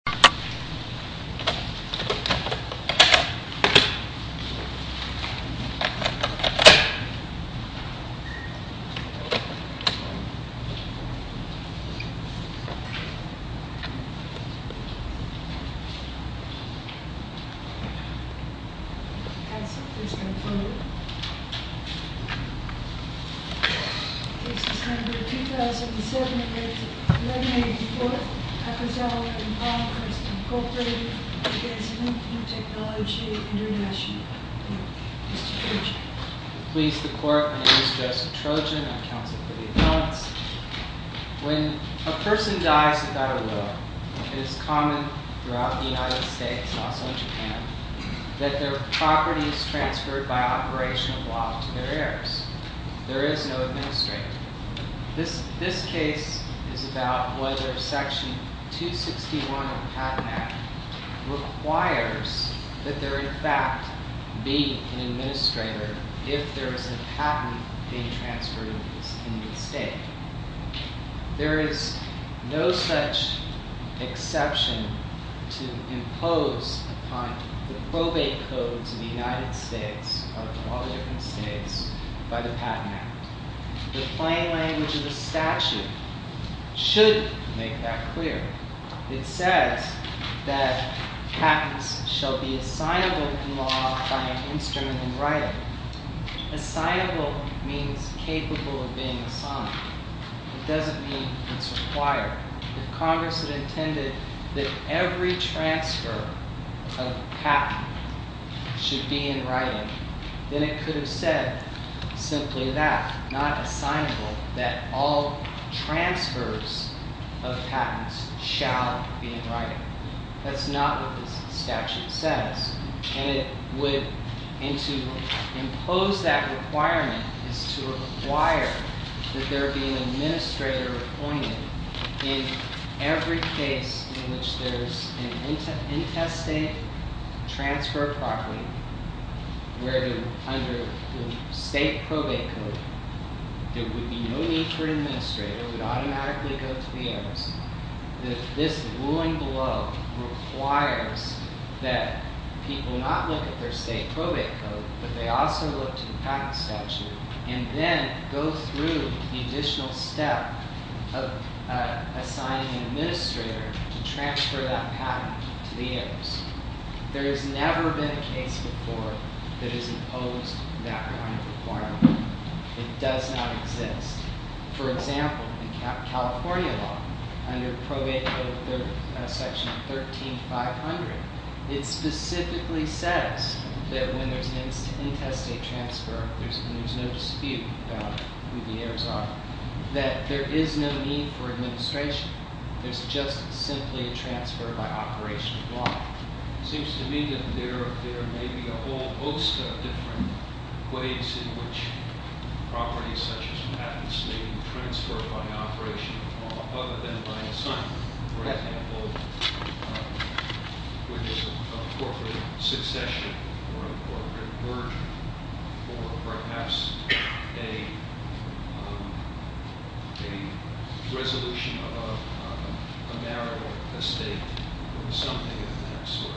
This is number 2007-11-84, Akazawa v. Link New Tech. Mr. Cooper, Akazawa v. Link New Technology International. Mr. Trojan. Pleased to court, my name is Joseph Trojan. I'm counsel for the appellants. When a person dies without a will, it is common throughout the United States, also in Japan, that their property is transferred by operational block to their heirs. There is no administrator. This case is about whether Section 261 of the Patent Act requires that there in fact be an administrator if there is a patent being transferred in the state. There is no such exception to impose upon the probate code to the United States, or to all the different states, by the Patent Act. The plain language of the statute should make that clear. It says that patents shall be assignable in law by an instrument in writing. Assignable means capable of being assigned. It doesn't mean it's required. If Congress had intended that every transfer of patent should be in writing, then it could have said simply that, not assignable, that all transfers of patents shall be in writing. That's not what this statute says. And to impose that requirement is to require that there be an administrator appointed in every case in which there's an intestate transfer of property, where under the state probate code, there would be no need for an administrator. It would automatically go to the heirs. This ruling below requires that people not look at their state probate code, but they also look to the patent statute, and then go through the additional step of assigning an administrator to transfer that patent to the heirs. There has never been a case before that has imposed that kind of requirement. It does not exist. For example, in California law, under Probate Code Section 13500, it specifically says that when there's an intestate transfer, there's no dispute about who the heirs are, that there is no need for administration. There's just simply a transfer by operation of law. It seems to me that there may be a whole host of different ways in which properties, such as patents, may be transferred by operation of law other than by assignment. For example, which is a corporate succession or a corporate merger, or perhaps a resolution of a marital estate, or something of that sort.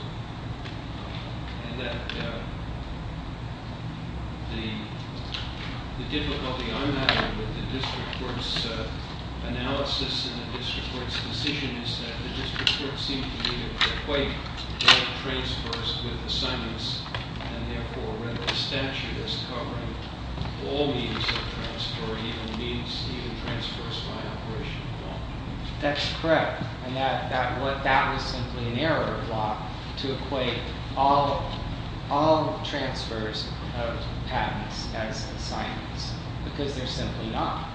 The difficulty I'm having with the district court's analysis and the district court's decision is that the district court seems to need to equate the transfers with assignments, and therefore, render the statute as covering all means of transfer, even means, even transfers by operation of law. That's correct. And that was simply an error block to equate all transfers of patents as assignments, because they're simply not.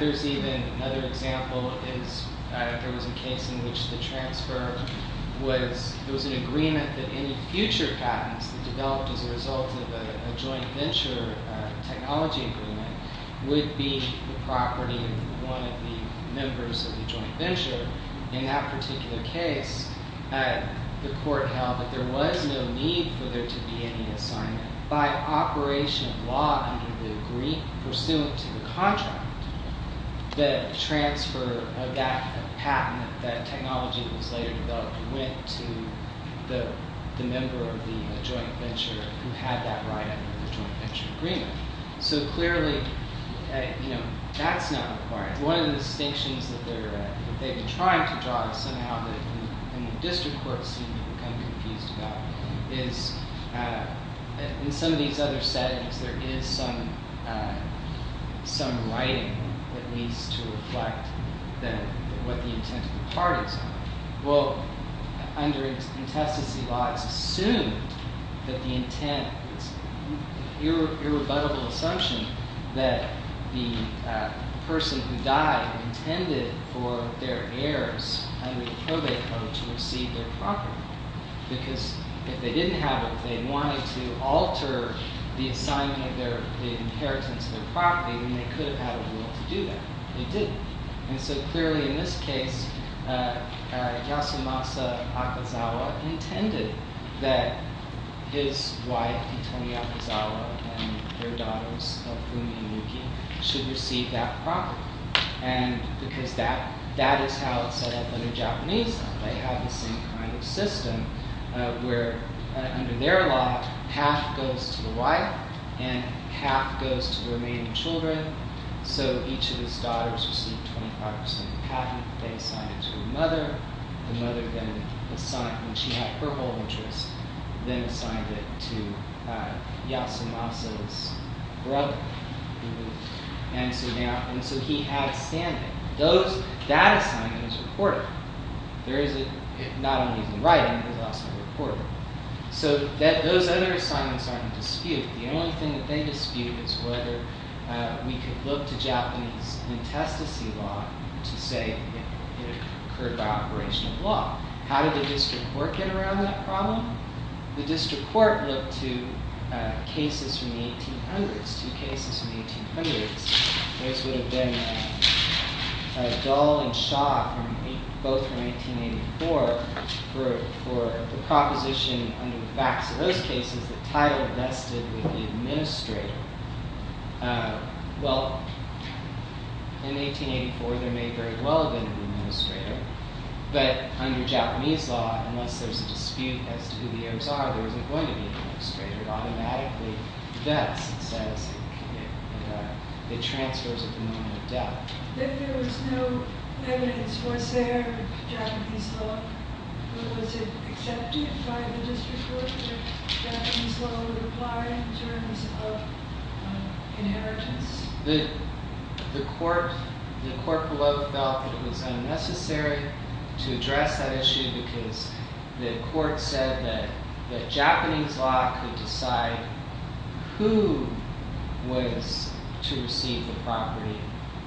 There's even another example. There was a case in which the transfer was, there was an agreement that any future patents that developed as a result of a joint venture technology agreement would be the property of one of the members of the joint venture. In that particular case, the court held that there was no need for there to be any assignment. By operation of law pursuant to the contract, the transfer of that patent, that technology that was later developed, went to the member of the joint venture who had that right under the joint venture agreement. So clearly, that's not required. One of the distinctions that they've been trying to draw, somehow that the district courts seem to become confused about, is in some of these other settings, there is some writing that needs to reflect what the intent of the part is. Well, under intestacy laws, it's assumed that the intent, it's an irrebuttable assumption that the person who died intended for their heirs under the probate code to receive their property. Because if they didn't have it, if they wanted to alter the assignment of the inheritance of their property, then they could have had a rule to do that. They didn't. And so clearly in this case, Yasumasa Akazawa intended that his wife, Hitomi Akazawa, and their daughters, Fumi and Yuki, should receive that property. And because that is how it's set up under Japanese law. They have the same kind of system where under their law, half goes to the wife and half goes to the remaining children. So each of his daughters received 25% of the patent. They assigned it to the mother. The mother then assigned, when she had her whole interest, then assigned it to Yasumasa's brother. And so he had a standing. That assignment is reported. Not only is it in writing, but it's also reported. So those other assignments aren't disputed. The only thing that they dispute is whether we could look to Japanese intestacy law to say it occurred by operation of law. How did the district court get around that problem? The district court looked to cases from the 1800s. Two cases from the 1800s. Those would have been Dahl and Shaw, both from 1984. For the proposition under the facts of those cases, the title vested with the administrator. Well, in 1884, there may very well have been an administrator. But under Japanese law, unless there's a dispute as to who the heirs are, there isn't going to be an administrator. It automatically vests and says it transfers at the moment of death. If there was no evidence, was there Japanese law? Was it accepted by the district court that Japanese law would apply in terms of inheritance? The court below felt that it was unnecessary to address that issue because the court said that Japanese law could decide who was to receive the property,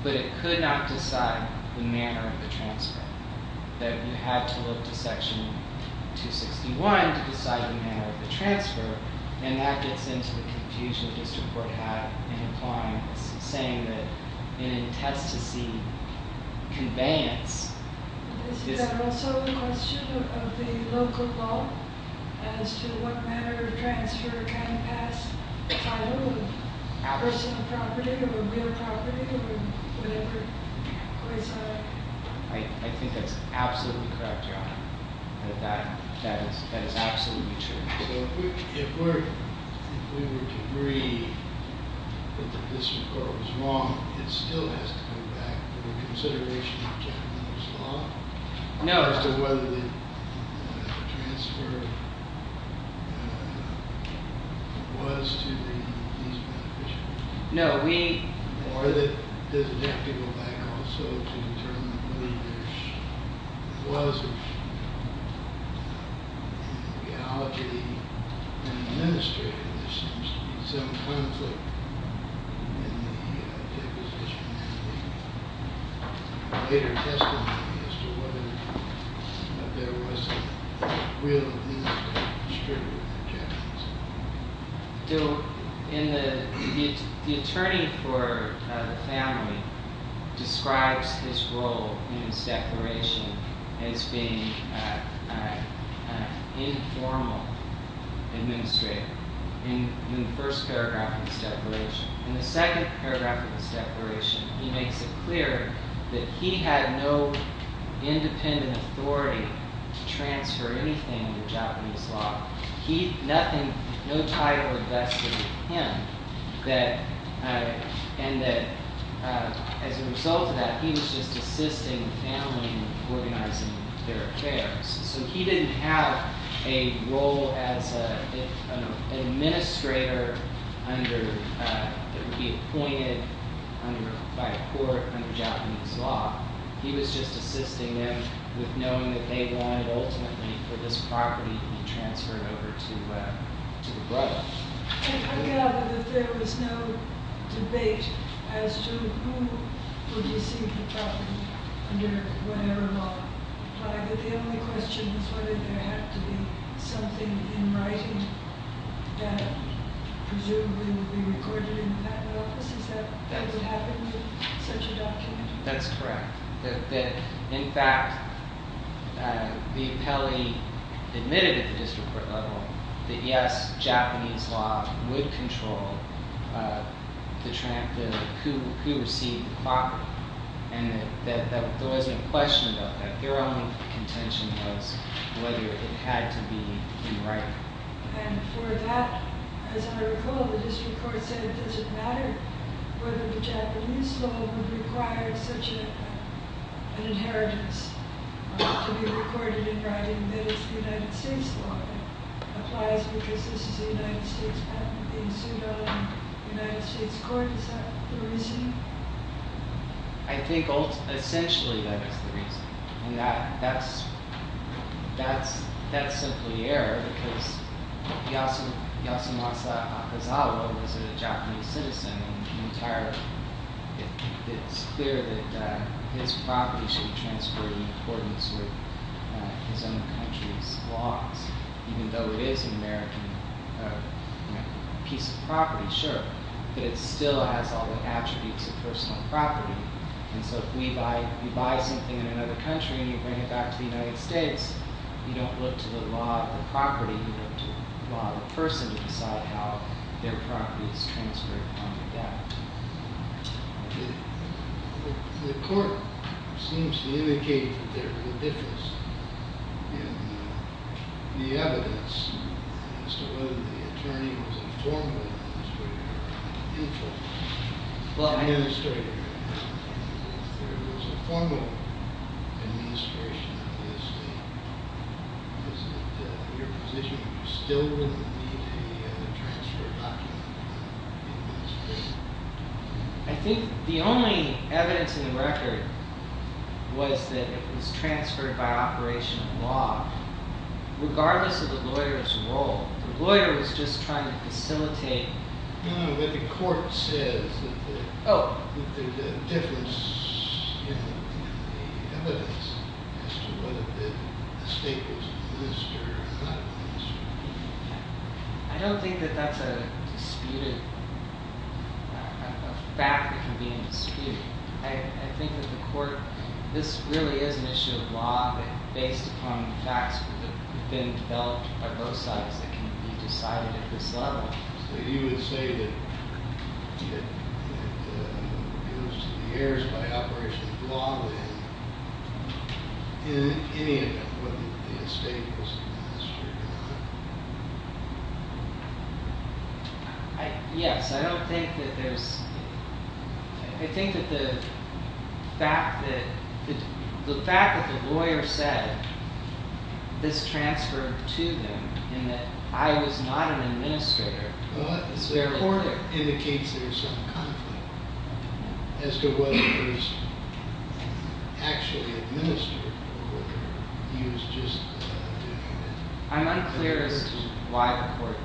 but it could not decide the manner of the transfer. That you have to look to section 261 to decide the manner of the transfer, and that gets into the confusion the district court had in applying this, saying that it intends to see conveyance. Is that also a question of the local law as to what manner of transfer can pass if I own a personal property or a real property or whatever? I think that's absolutely correct, Your Honor. That is absolutely true. So if we were to agree that the district court was wrong, it still has to go back to the consideration of Japanese law? No. As to whether the transfer was to the Japanese foundation? No, we- Or does it have to go back also to determine whether there was an ideology in administering this? There seems to be some conflict in the deposition and the later testimony as to whether there was a real interest in distributing the Japanese law. The attorney for the family describes his role in this declaration as being an informal administrator in the first paragraph of this declaration. In the second paragraph of this declaration, he makes it clear that he had no independent authority to transfer anything to Japanese law. No title invested with him and that as a result of that, he was just assisting the family in organizing their affairs. So he didn't have a role as an administrator that would be appointed by a court under Japanese law. He was just assisting them with knowing that they wanted ultimately for this property to be transferred over to the brother. I gather that there was no debate as to who would receive the property under whatever law. The only question is whether there had to be something in writing that presumably would be recorded in the patent office. Is that what happened in such a document? That's correct. In fact, the appellee admitted at the district court level that yes, Japanese law would control who received the property and that there wasn't a question about that. Their only contention was whether it had to be in writing. And for that, as I recall, the district court said it doesn't matter whether the Japanese law would require such an inheritance to be recorded in writing, that it's the United States law that applies because this is a United States patent being sued on in the United States court. Is that the reason? I think essentially that is the reason. And that's simply error because Yasumasa Akazawa was a Japanese citizen and it's clear that his property should be transferred in accordance with his own country's laws, even though it is an American piece of property, sure, but it still has all the attributes of personal property. And so if you buy something in another country and you bring it back to the United States, you don't look to the law of the property, you don't look to the law of the person to decide how their property is transferred on the debt. The court seems to indicate that there is a difference in the evidence as to whether the attorney was a formal administrator or a neutral administrator. If there was a formal administration of the estate, was it your position that you still wouldn't need a transfer document in this case? I think the only evidence in the record was that it was transferred by operation of law, regardless of the lawyer's role. The lawyer was just trying to facilitate. No, but the court says that there's a difference in the evidence as to whether the estate was listed or not listed. I don't think that that's a fact that can be in dispute. I think that the court, this really is an issue of law based upon facts that have been developed by both sides that can be decided at this level. So you would say that it was in the airs by operation of law, then, in any event, whether the estate was administered or not. Yes, I don't think that there's, I think that the fact that, the fact that the lawyer said this transferred to them in that I was not an administrator. Well, the court indicates there's some conflict as to whether it was actually administered or whether he was just doing it. I'm unclear as to why the court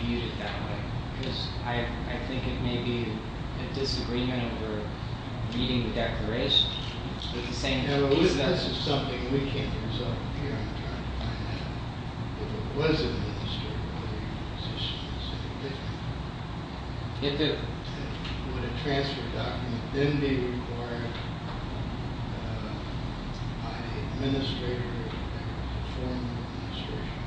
viewed it that way because I think it may be a disagreement over meeting the declaration. This is something we can't resolve here. I'm trying to find out if it was administered or whether he was just doing it. It did. Would a transfer document then be required by the administrator to perform the administration?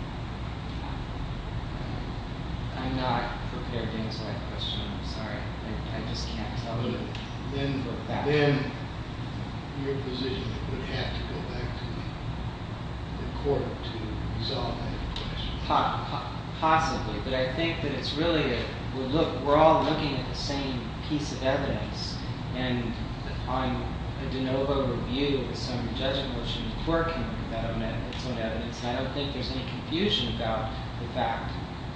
I'm not prepared to answer that question. I'm sorry. I just can't tell you. Then your position would have to go back to the court to resolve that question. Possibly, but I think that it's really, we're all looking at the same piece of evidence. And on a de novo review of the summary judgment, we're working with that evidence, and I don't think there's any confusion about the fact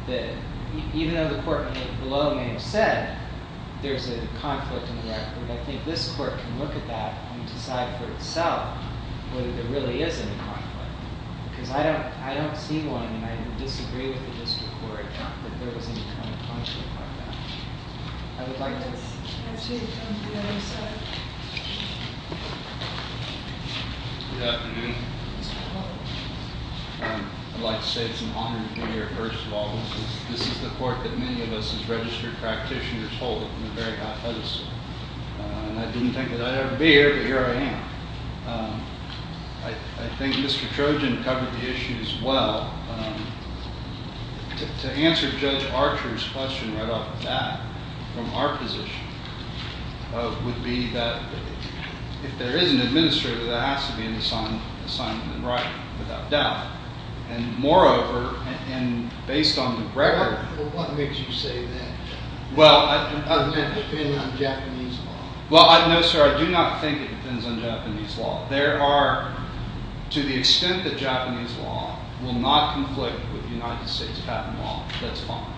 that even though the court below may have said that there's a conflict in the record, I think this court can look at that and decide for itself whether there really is any conflict. Because I don't see one, and I disagree with the district court that there was any kind of conflict like that. I would like to... Good afternoon. I'd like to say it's an honor to be here. First of all, this is the court that many of us as registered practitioners hold in a very high pedestal. And I didn't think that I'd ever be here, but here I am. I think Mr. Trojan covered the issue as well. To answer Judge Archer's question right off the bat from our position would be that if there is an administrator that has to be in assignment and right, without doubt. And moreover, and based on the record... Well... Well, no, sir, I do not think it depends on Japanese law. There are, to the extent that Japanese law will not conflict with United States patent law, that's fine.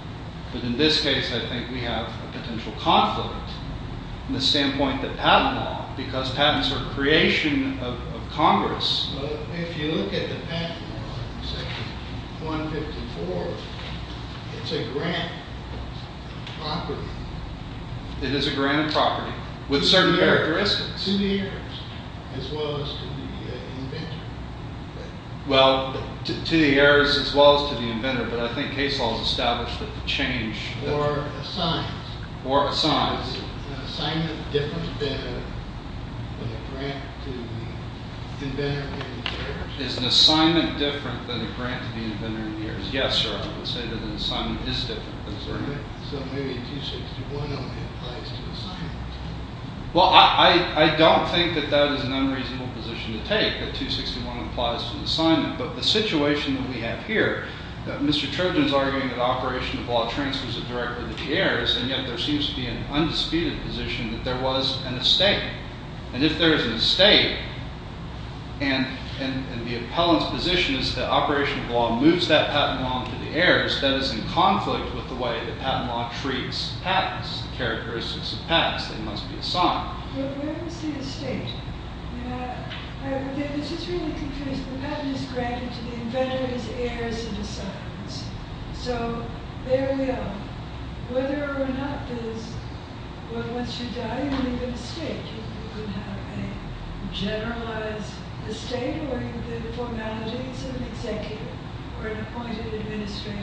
But in this case, I think we have a potential conflict in the standpoint of patent law, because patents are a creation of Congress. If you look at the patent law, Section 154, it's a grant property. It is a grant property with certain characteristics. To the heirs as well as to the inventor. Well, to the heirs as well as to the inventor, but I think Case Law has established that the change... Or assigned. Or assigned. Is an assignment different than a grant to the inventor and the heirs? Is an assignment different than a grant to the inventor and the heirs? Yes, sir, I would say that an assignment is different than a grant. So maybe 261 only applies to the assignment? Well, I don't think that that is an unreasonable position to take, that 261 applies to the assignment. But the situation that we have here, Mr. Turgeon is arguing that Operation of Law transfers it directly to the heirs, and yet there seems to be an undisputed position that there was an estate. And if there is an estate, and the appellant's position is that Operation of Law moves that patent law onto the heirs, that is in conflict with the way that patent law treats patents, the characteristics of patents. They must be assigned. But where is the estate? This is really confusing. The patent is granted to the inventor as heirs and assignments. So there we are. Whether or not there's... Well, once you die, you leave an estate. You would have a generalized estate, or the formalities of an executive or an appointed administrator.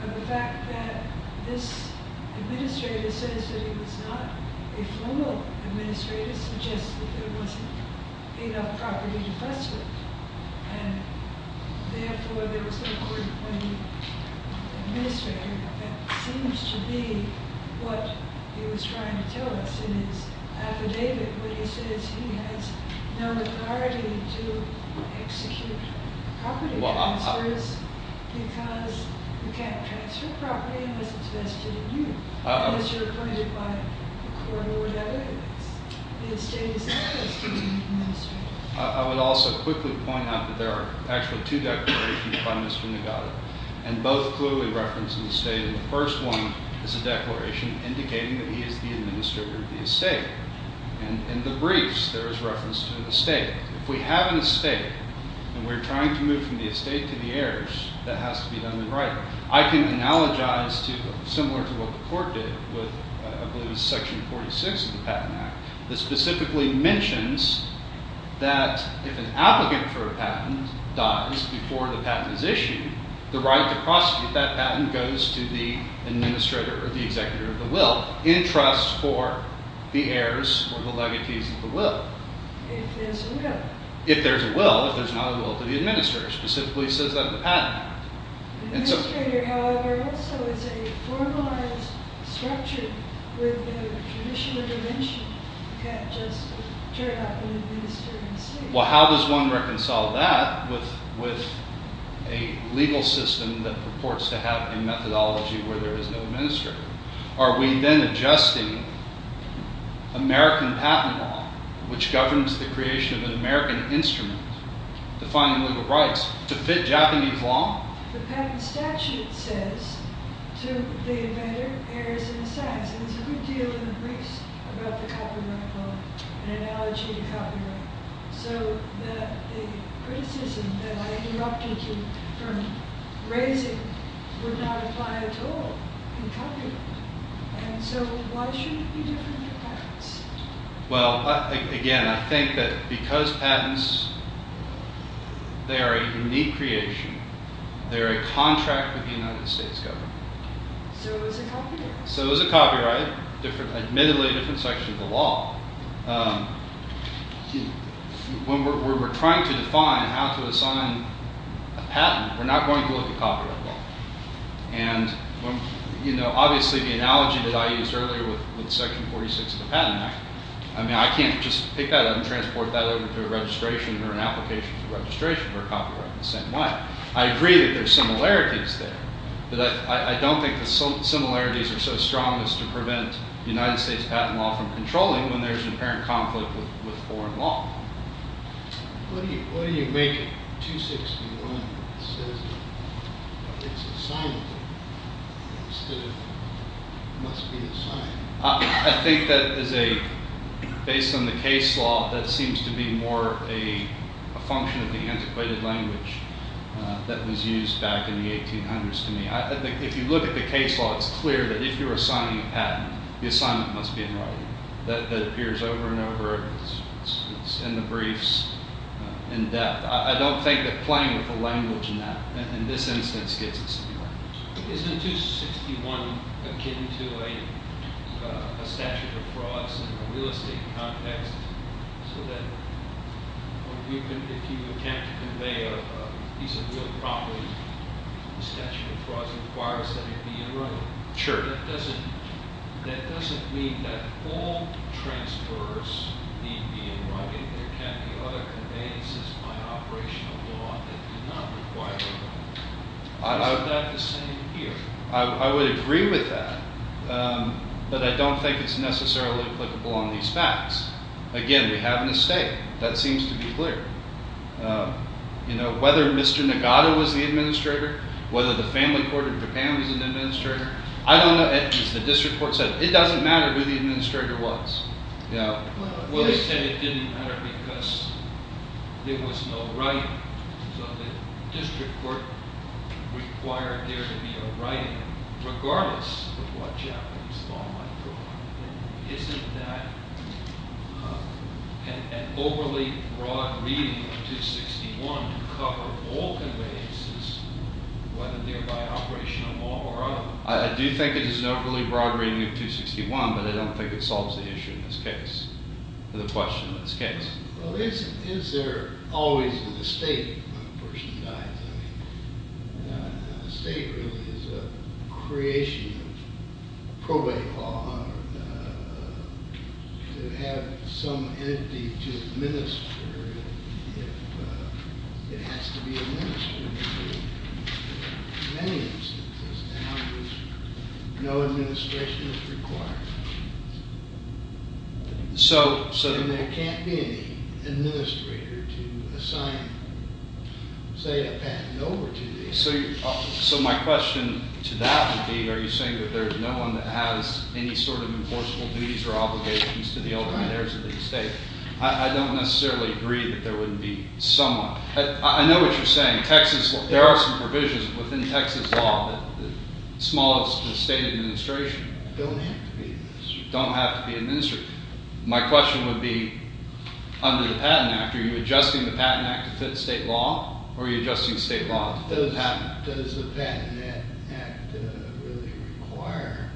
Now, the fact that this administrator says that he was not a formal administrator suggests that there wasn't enough property to fuss with. And therefore, there was no court-appointed administrator. That seems to be what he was trying to tell us in his affidavit when he says he has no authority to execute property transfers because you can't transfer property unless it's vested in you, unless you're appointed by a court or whatever it is. The estate is not vested in the administrator. I would also quickly point out that there are actual two declarations by Mr. Nagata, and both clearly reference an estate. The first one is a declaration indicating that he is the administrator of the estate. In the briefs, there is reference to an estate. If we have an estate and we're trying to move from the estate to the heirs, that has to be done in writing. I can analogize, similar to what the court did, with, I believe it's Section 46 of the Patent Act, that specifically mentions that if an applicant for a patent dies before the patent is issued, the right to prosecute that patent goes to the administrator or the executor of the will in trust for the heirs or the legacies of the will. If there's a will. If there's a will. If there's not a will to the administrator. Specifically, he says that in the Patent Act. The administrator, however, also is a formalized structure with a judicial dimension that just turned up in the ministering estate. Well, how does one reconcile that with a legal system that purports to have a methodology where there is no administrator? Are we then adjusting American patent law, which governs the creation of an American instrument defining legal rights, to fit Japanese law? The patent statute says to the invader, heirs, and the sacks. And there's a good deal in the briefs about the copyright law, an analogy to copyright. So the criticism that I interrupted you from raising would not apply at all in copyright. And so why should it be different for patents? Well, again, I think that because patents, they are a unique creation. They're a contract with the United States government. So is a copyright. So is a copyright. Admittedly, a different section of the law. When we're trying to define how to assign a patent, we're not going to look at copyright law. And obviously, the analogy that I used earlier with Section 46 of the Patent Act, I mean, I can't just pick that up and transport that over to a registration or an application for registration for copyright in the same way. I agree that there are similarities there. But I don't think the similarities are so strong as to prevent United States patent law from controlling when there's an apparent conflict with foreign law. What do you make of 261 that says it's assigned instead of must be assigned? I think that is a, based on the case law, that seems to be more a function of the antiquated language that was used back in the 1800s to me. If you look at the case law, it's clear that if you're assigning a patent, the assignment must be in writing. That appears over and over. It's in the briefs in depth. I don't think that playing with the language in this instance gets us anywhere. Isn't 261 akin to a statute of frauds in a real estate context so that if you attempt to convey a piece of real property, the statute of frauds requires that it be in writing? Sure. But that doesn't mean that all transfers need be in writing. There can't be other conveyances by operational law that do not require writing. Isn't that the same here? I would agree with that. But I don't think it's necessarily applicable on these facts. Again, we have an estate. That seems to be clear. Whether Mr. Nagata was the administrator, whether the family court in Japan was an administrator, I don't know. As the district court said, it doesn't matter who the administrator was. Well, they said it didn't matter because there was no writing. So the district court required there to be a writing regardless of what Japanese law might provide. Isn't that an overly broad reading of 261 to cover all conveyances, whether they're by operational law or other? I do think it is an overly broad reading of 261, but I don't think it solves the issue in this case, or the question in this case. Well, is there always an estate when a person dies? An estate really is a creation of probate law to have some entity to administer it. It has to be administered. In many instances now, no administration is required. So there can't be any administrator to assign, say, a patent over to the estate. So my question to that would be, are you saying that there's no one that has any sort of enforceable duties or obligations to the elders and heirs of the estate? I don't necessarily agree that there would be someone. I know what you're saying. There are some provisions within Texas law that smallest the state administration. Don't have to be administered. Don't have to be administered. My question would be, under the Patent Act, are you adjusting the Patent Act to fit state law, or are you adjusting state law? Does the Patent Act really require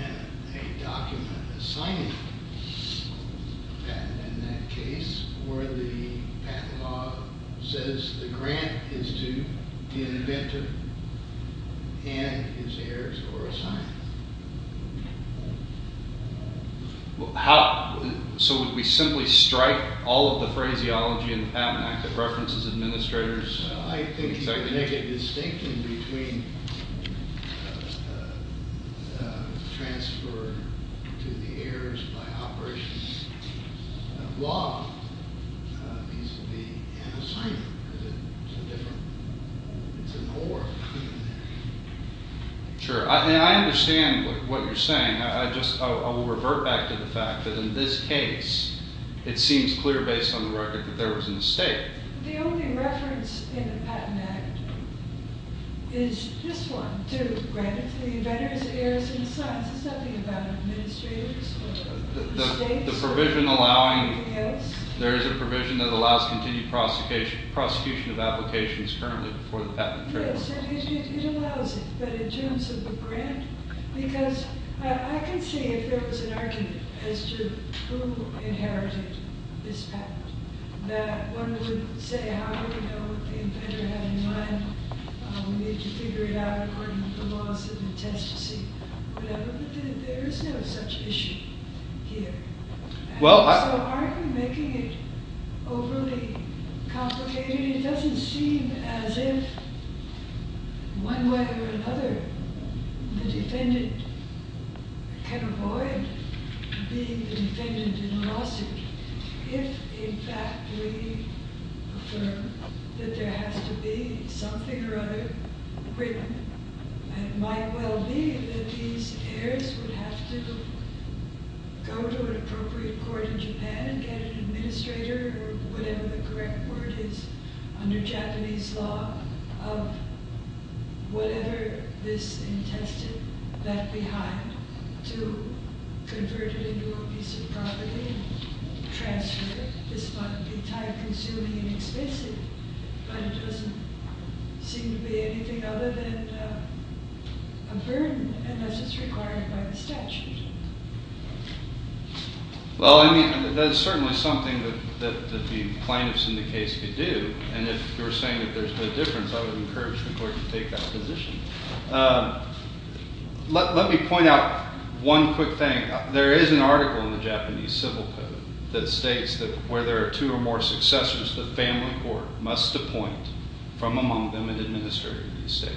a document assigning a patent in that case, or the patent law says the grant is to the inventor and his heirs who are assigned? So would we simply strike all of the phraseology in the Patent Act that references administrators? I think you could make a distinction between transfer to the heirs by operations of law. These would be an assignment. Is it some different? It's an award. Sure. I understand what you're saying. I will revert back to the fact that in this case, it seems clear based on the record that there was an estate. The only reference in the Patent Act is this one, to grant it to the inventors, heirs, and sons. Does it say something about administrators? The provision allowing, there is a provision that allows continued prosecution of applications currently for the patent. It allows it, but in terms of the grant? Because I can see if there was an argument as to who inherited this patent. That one would say, how do we know what the inventor had in mind? We need to figure it out according to the laws of the test to see. There is no such issue here. So aren't you making it overly complicated? It doesn't seem as if, one way or another, the defendant can avoid being the defendant in a lawsuit if, in fact, we affirm that there It might well be that these heirs would have to go to an appropriate court in Japan and get an administrator, or whatever the correct word is, under Japanese law, of whatever this intestine left behind to convert it into a piece of property and transfer it. This might be time consuming and expensive, but it doesn't seem to be anything other than a burden, unless it's required by the statute. Well, I mean, that is certainly something that the plaintiffs in the case could do. And if you're saying that there's no difference, I would encourage the court to take that position. Let me point out one quick thing. There is an article in the Japanese Civil Code that states that where there are two or more successors, the family court must appoint from among them an administrator of the estate.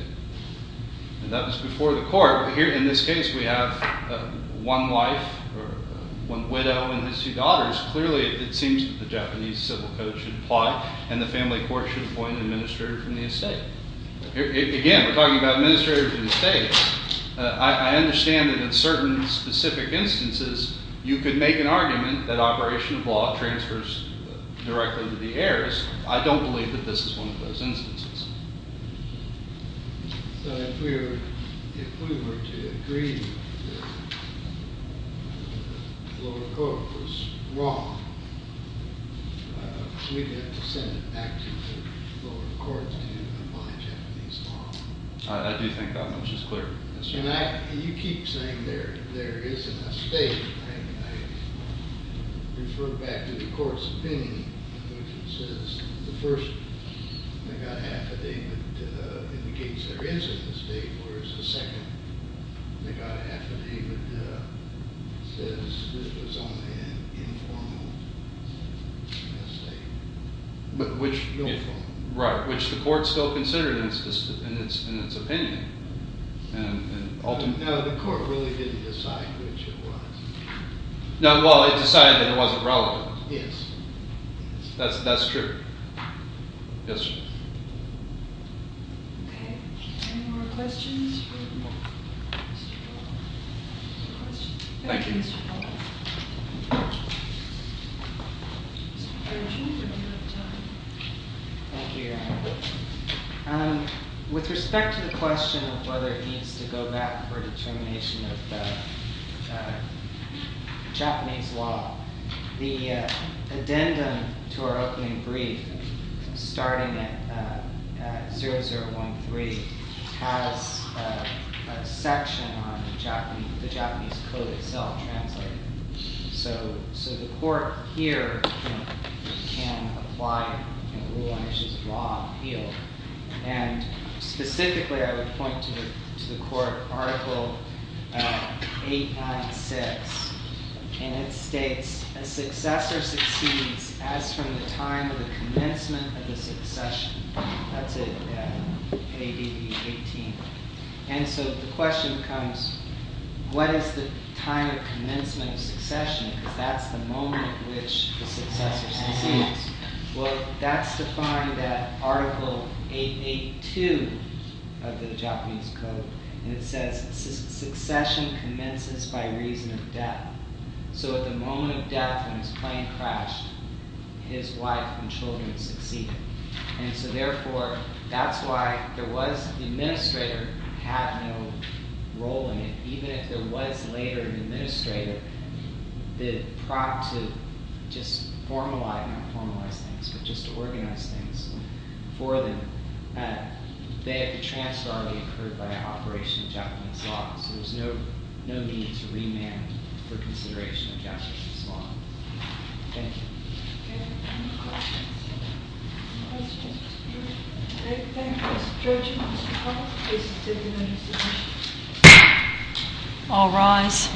And that was before the court. Here, in this case, we have one wife, or one widow and his two daughters. Clearly, it seems that the Japanese Civil Code should apply, and the family court should appoint an administrator from the estate. Again, we're talking about administrators of the estate. I understand that in certain specific instances, you could make an argument that operation of law transfers directly to the heirs. I don't believe that this is one of those instances. So if we were to agree that the lower court was wrong, we'd have to send it back to the lower court to apply Japanese law. I do think that much is clear. And you keep saying there is an estate. I refer back to the court's opinion, which says the first megahaffer David indicates there is an estate, whereas the second megahaffer David says this was only an informal estate. But which? Informal. Right. Which the court still considered in its opinion. No, the court really didn't decide which it was. No, well, it decided that it wasn't relevant. Yes. That's true. Yes, ma'am. OK. Any more questions? Thank you. Mr. Powell. Thank you, Your Honor. With respect to the question of whether it needs to go back for determination of the Japanese law, the addendum to our opening brief, starting at 0013, has a section on the Japanese code itself translated. So the court here can apply a rule on issues of law appeal. And specifically, I would point to the court article 896. And it states, a successor succeeds as from the time of the commencement of the succession. That's in ADV 18. And so the question becomes, what is the time of commencement of succession? Because that's the moment at which the successor succeeds. Well, that's defined in that article 882 of the Japanese code. And it says, succession commences by reason of death. So at the moment of death, when his plane crashed, his wife and children succeeded. And so therefore, that's why the administrator had no role in it. Even if there was later an administrator, the prompt to just formalize, not formalize things, but just to organize things for them, they had to transfer what occurred by an operation of Japanese law. So there's no need to remand for consideration of Japanese law. Thank you. Any questions? Mr. Speaker? Thank you. Mr. Chairman, Mr. Collins, please sit in your seats. All rise.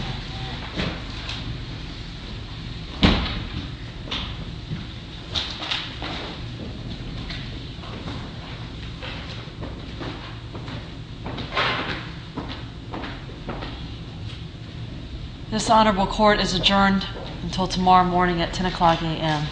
This honorable court is adjourned until tomorrow morning at 10 o'clock AM.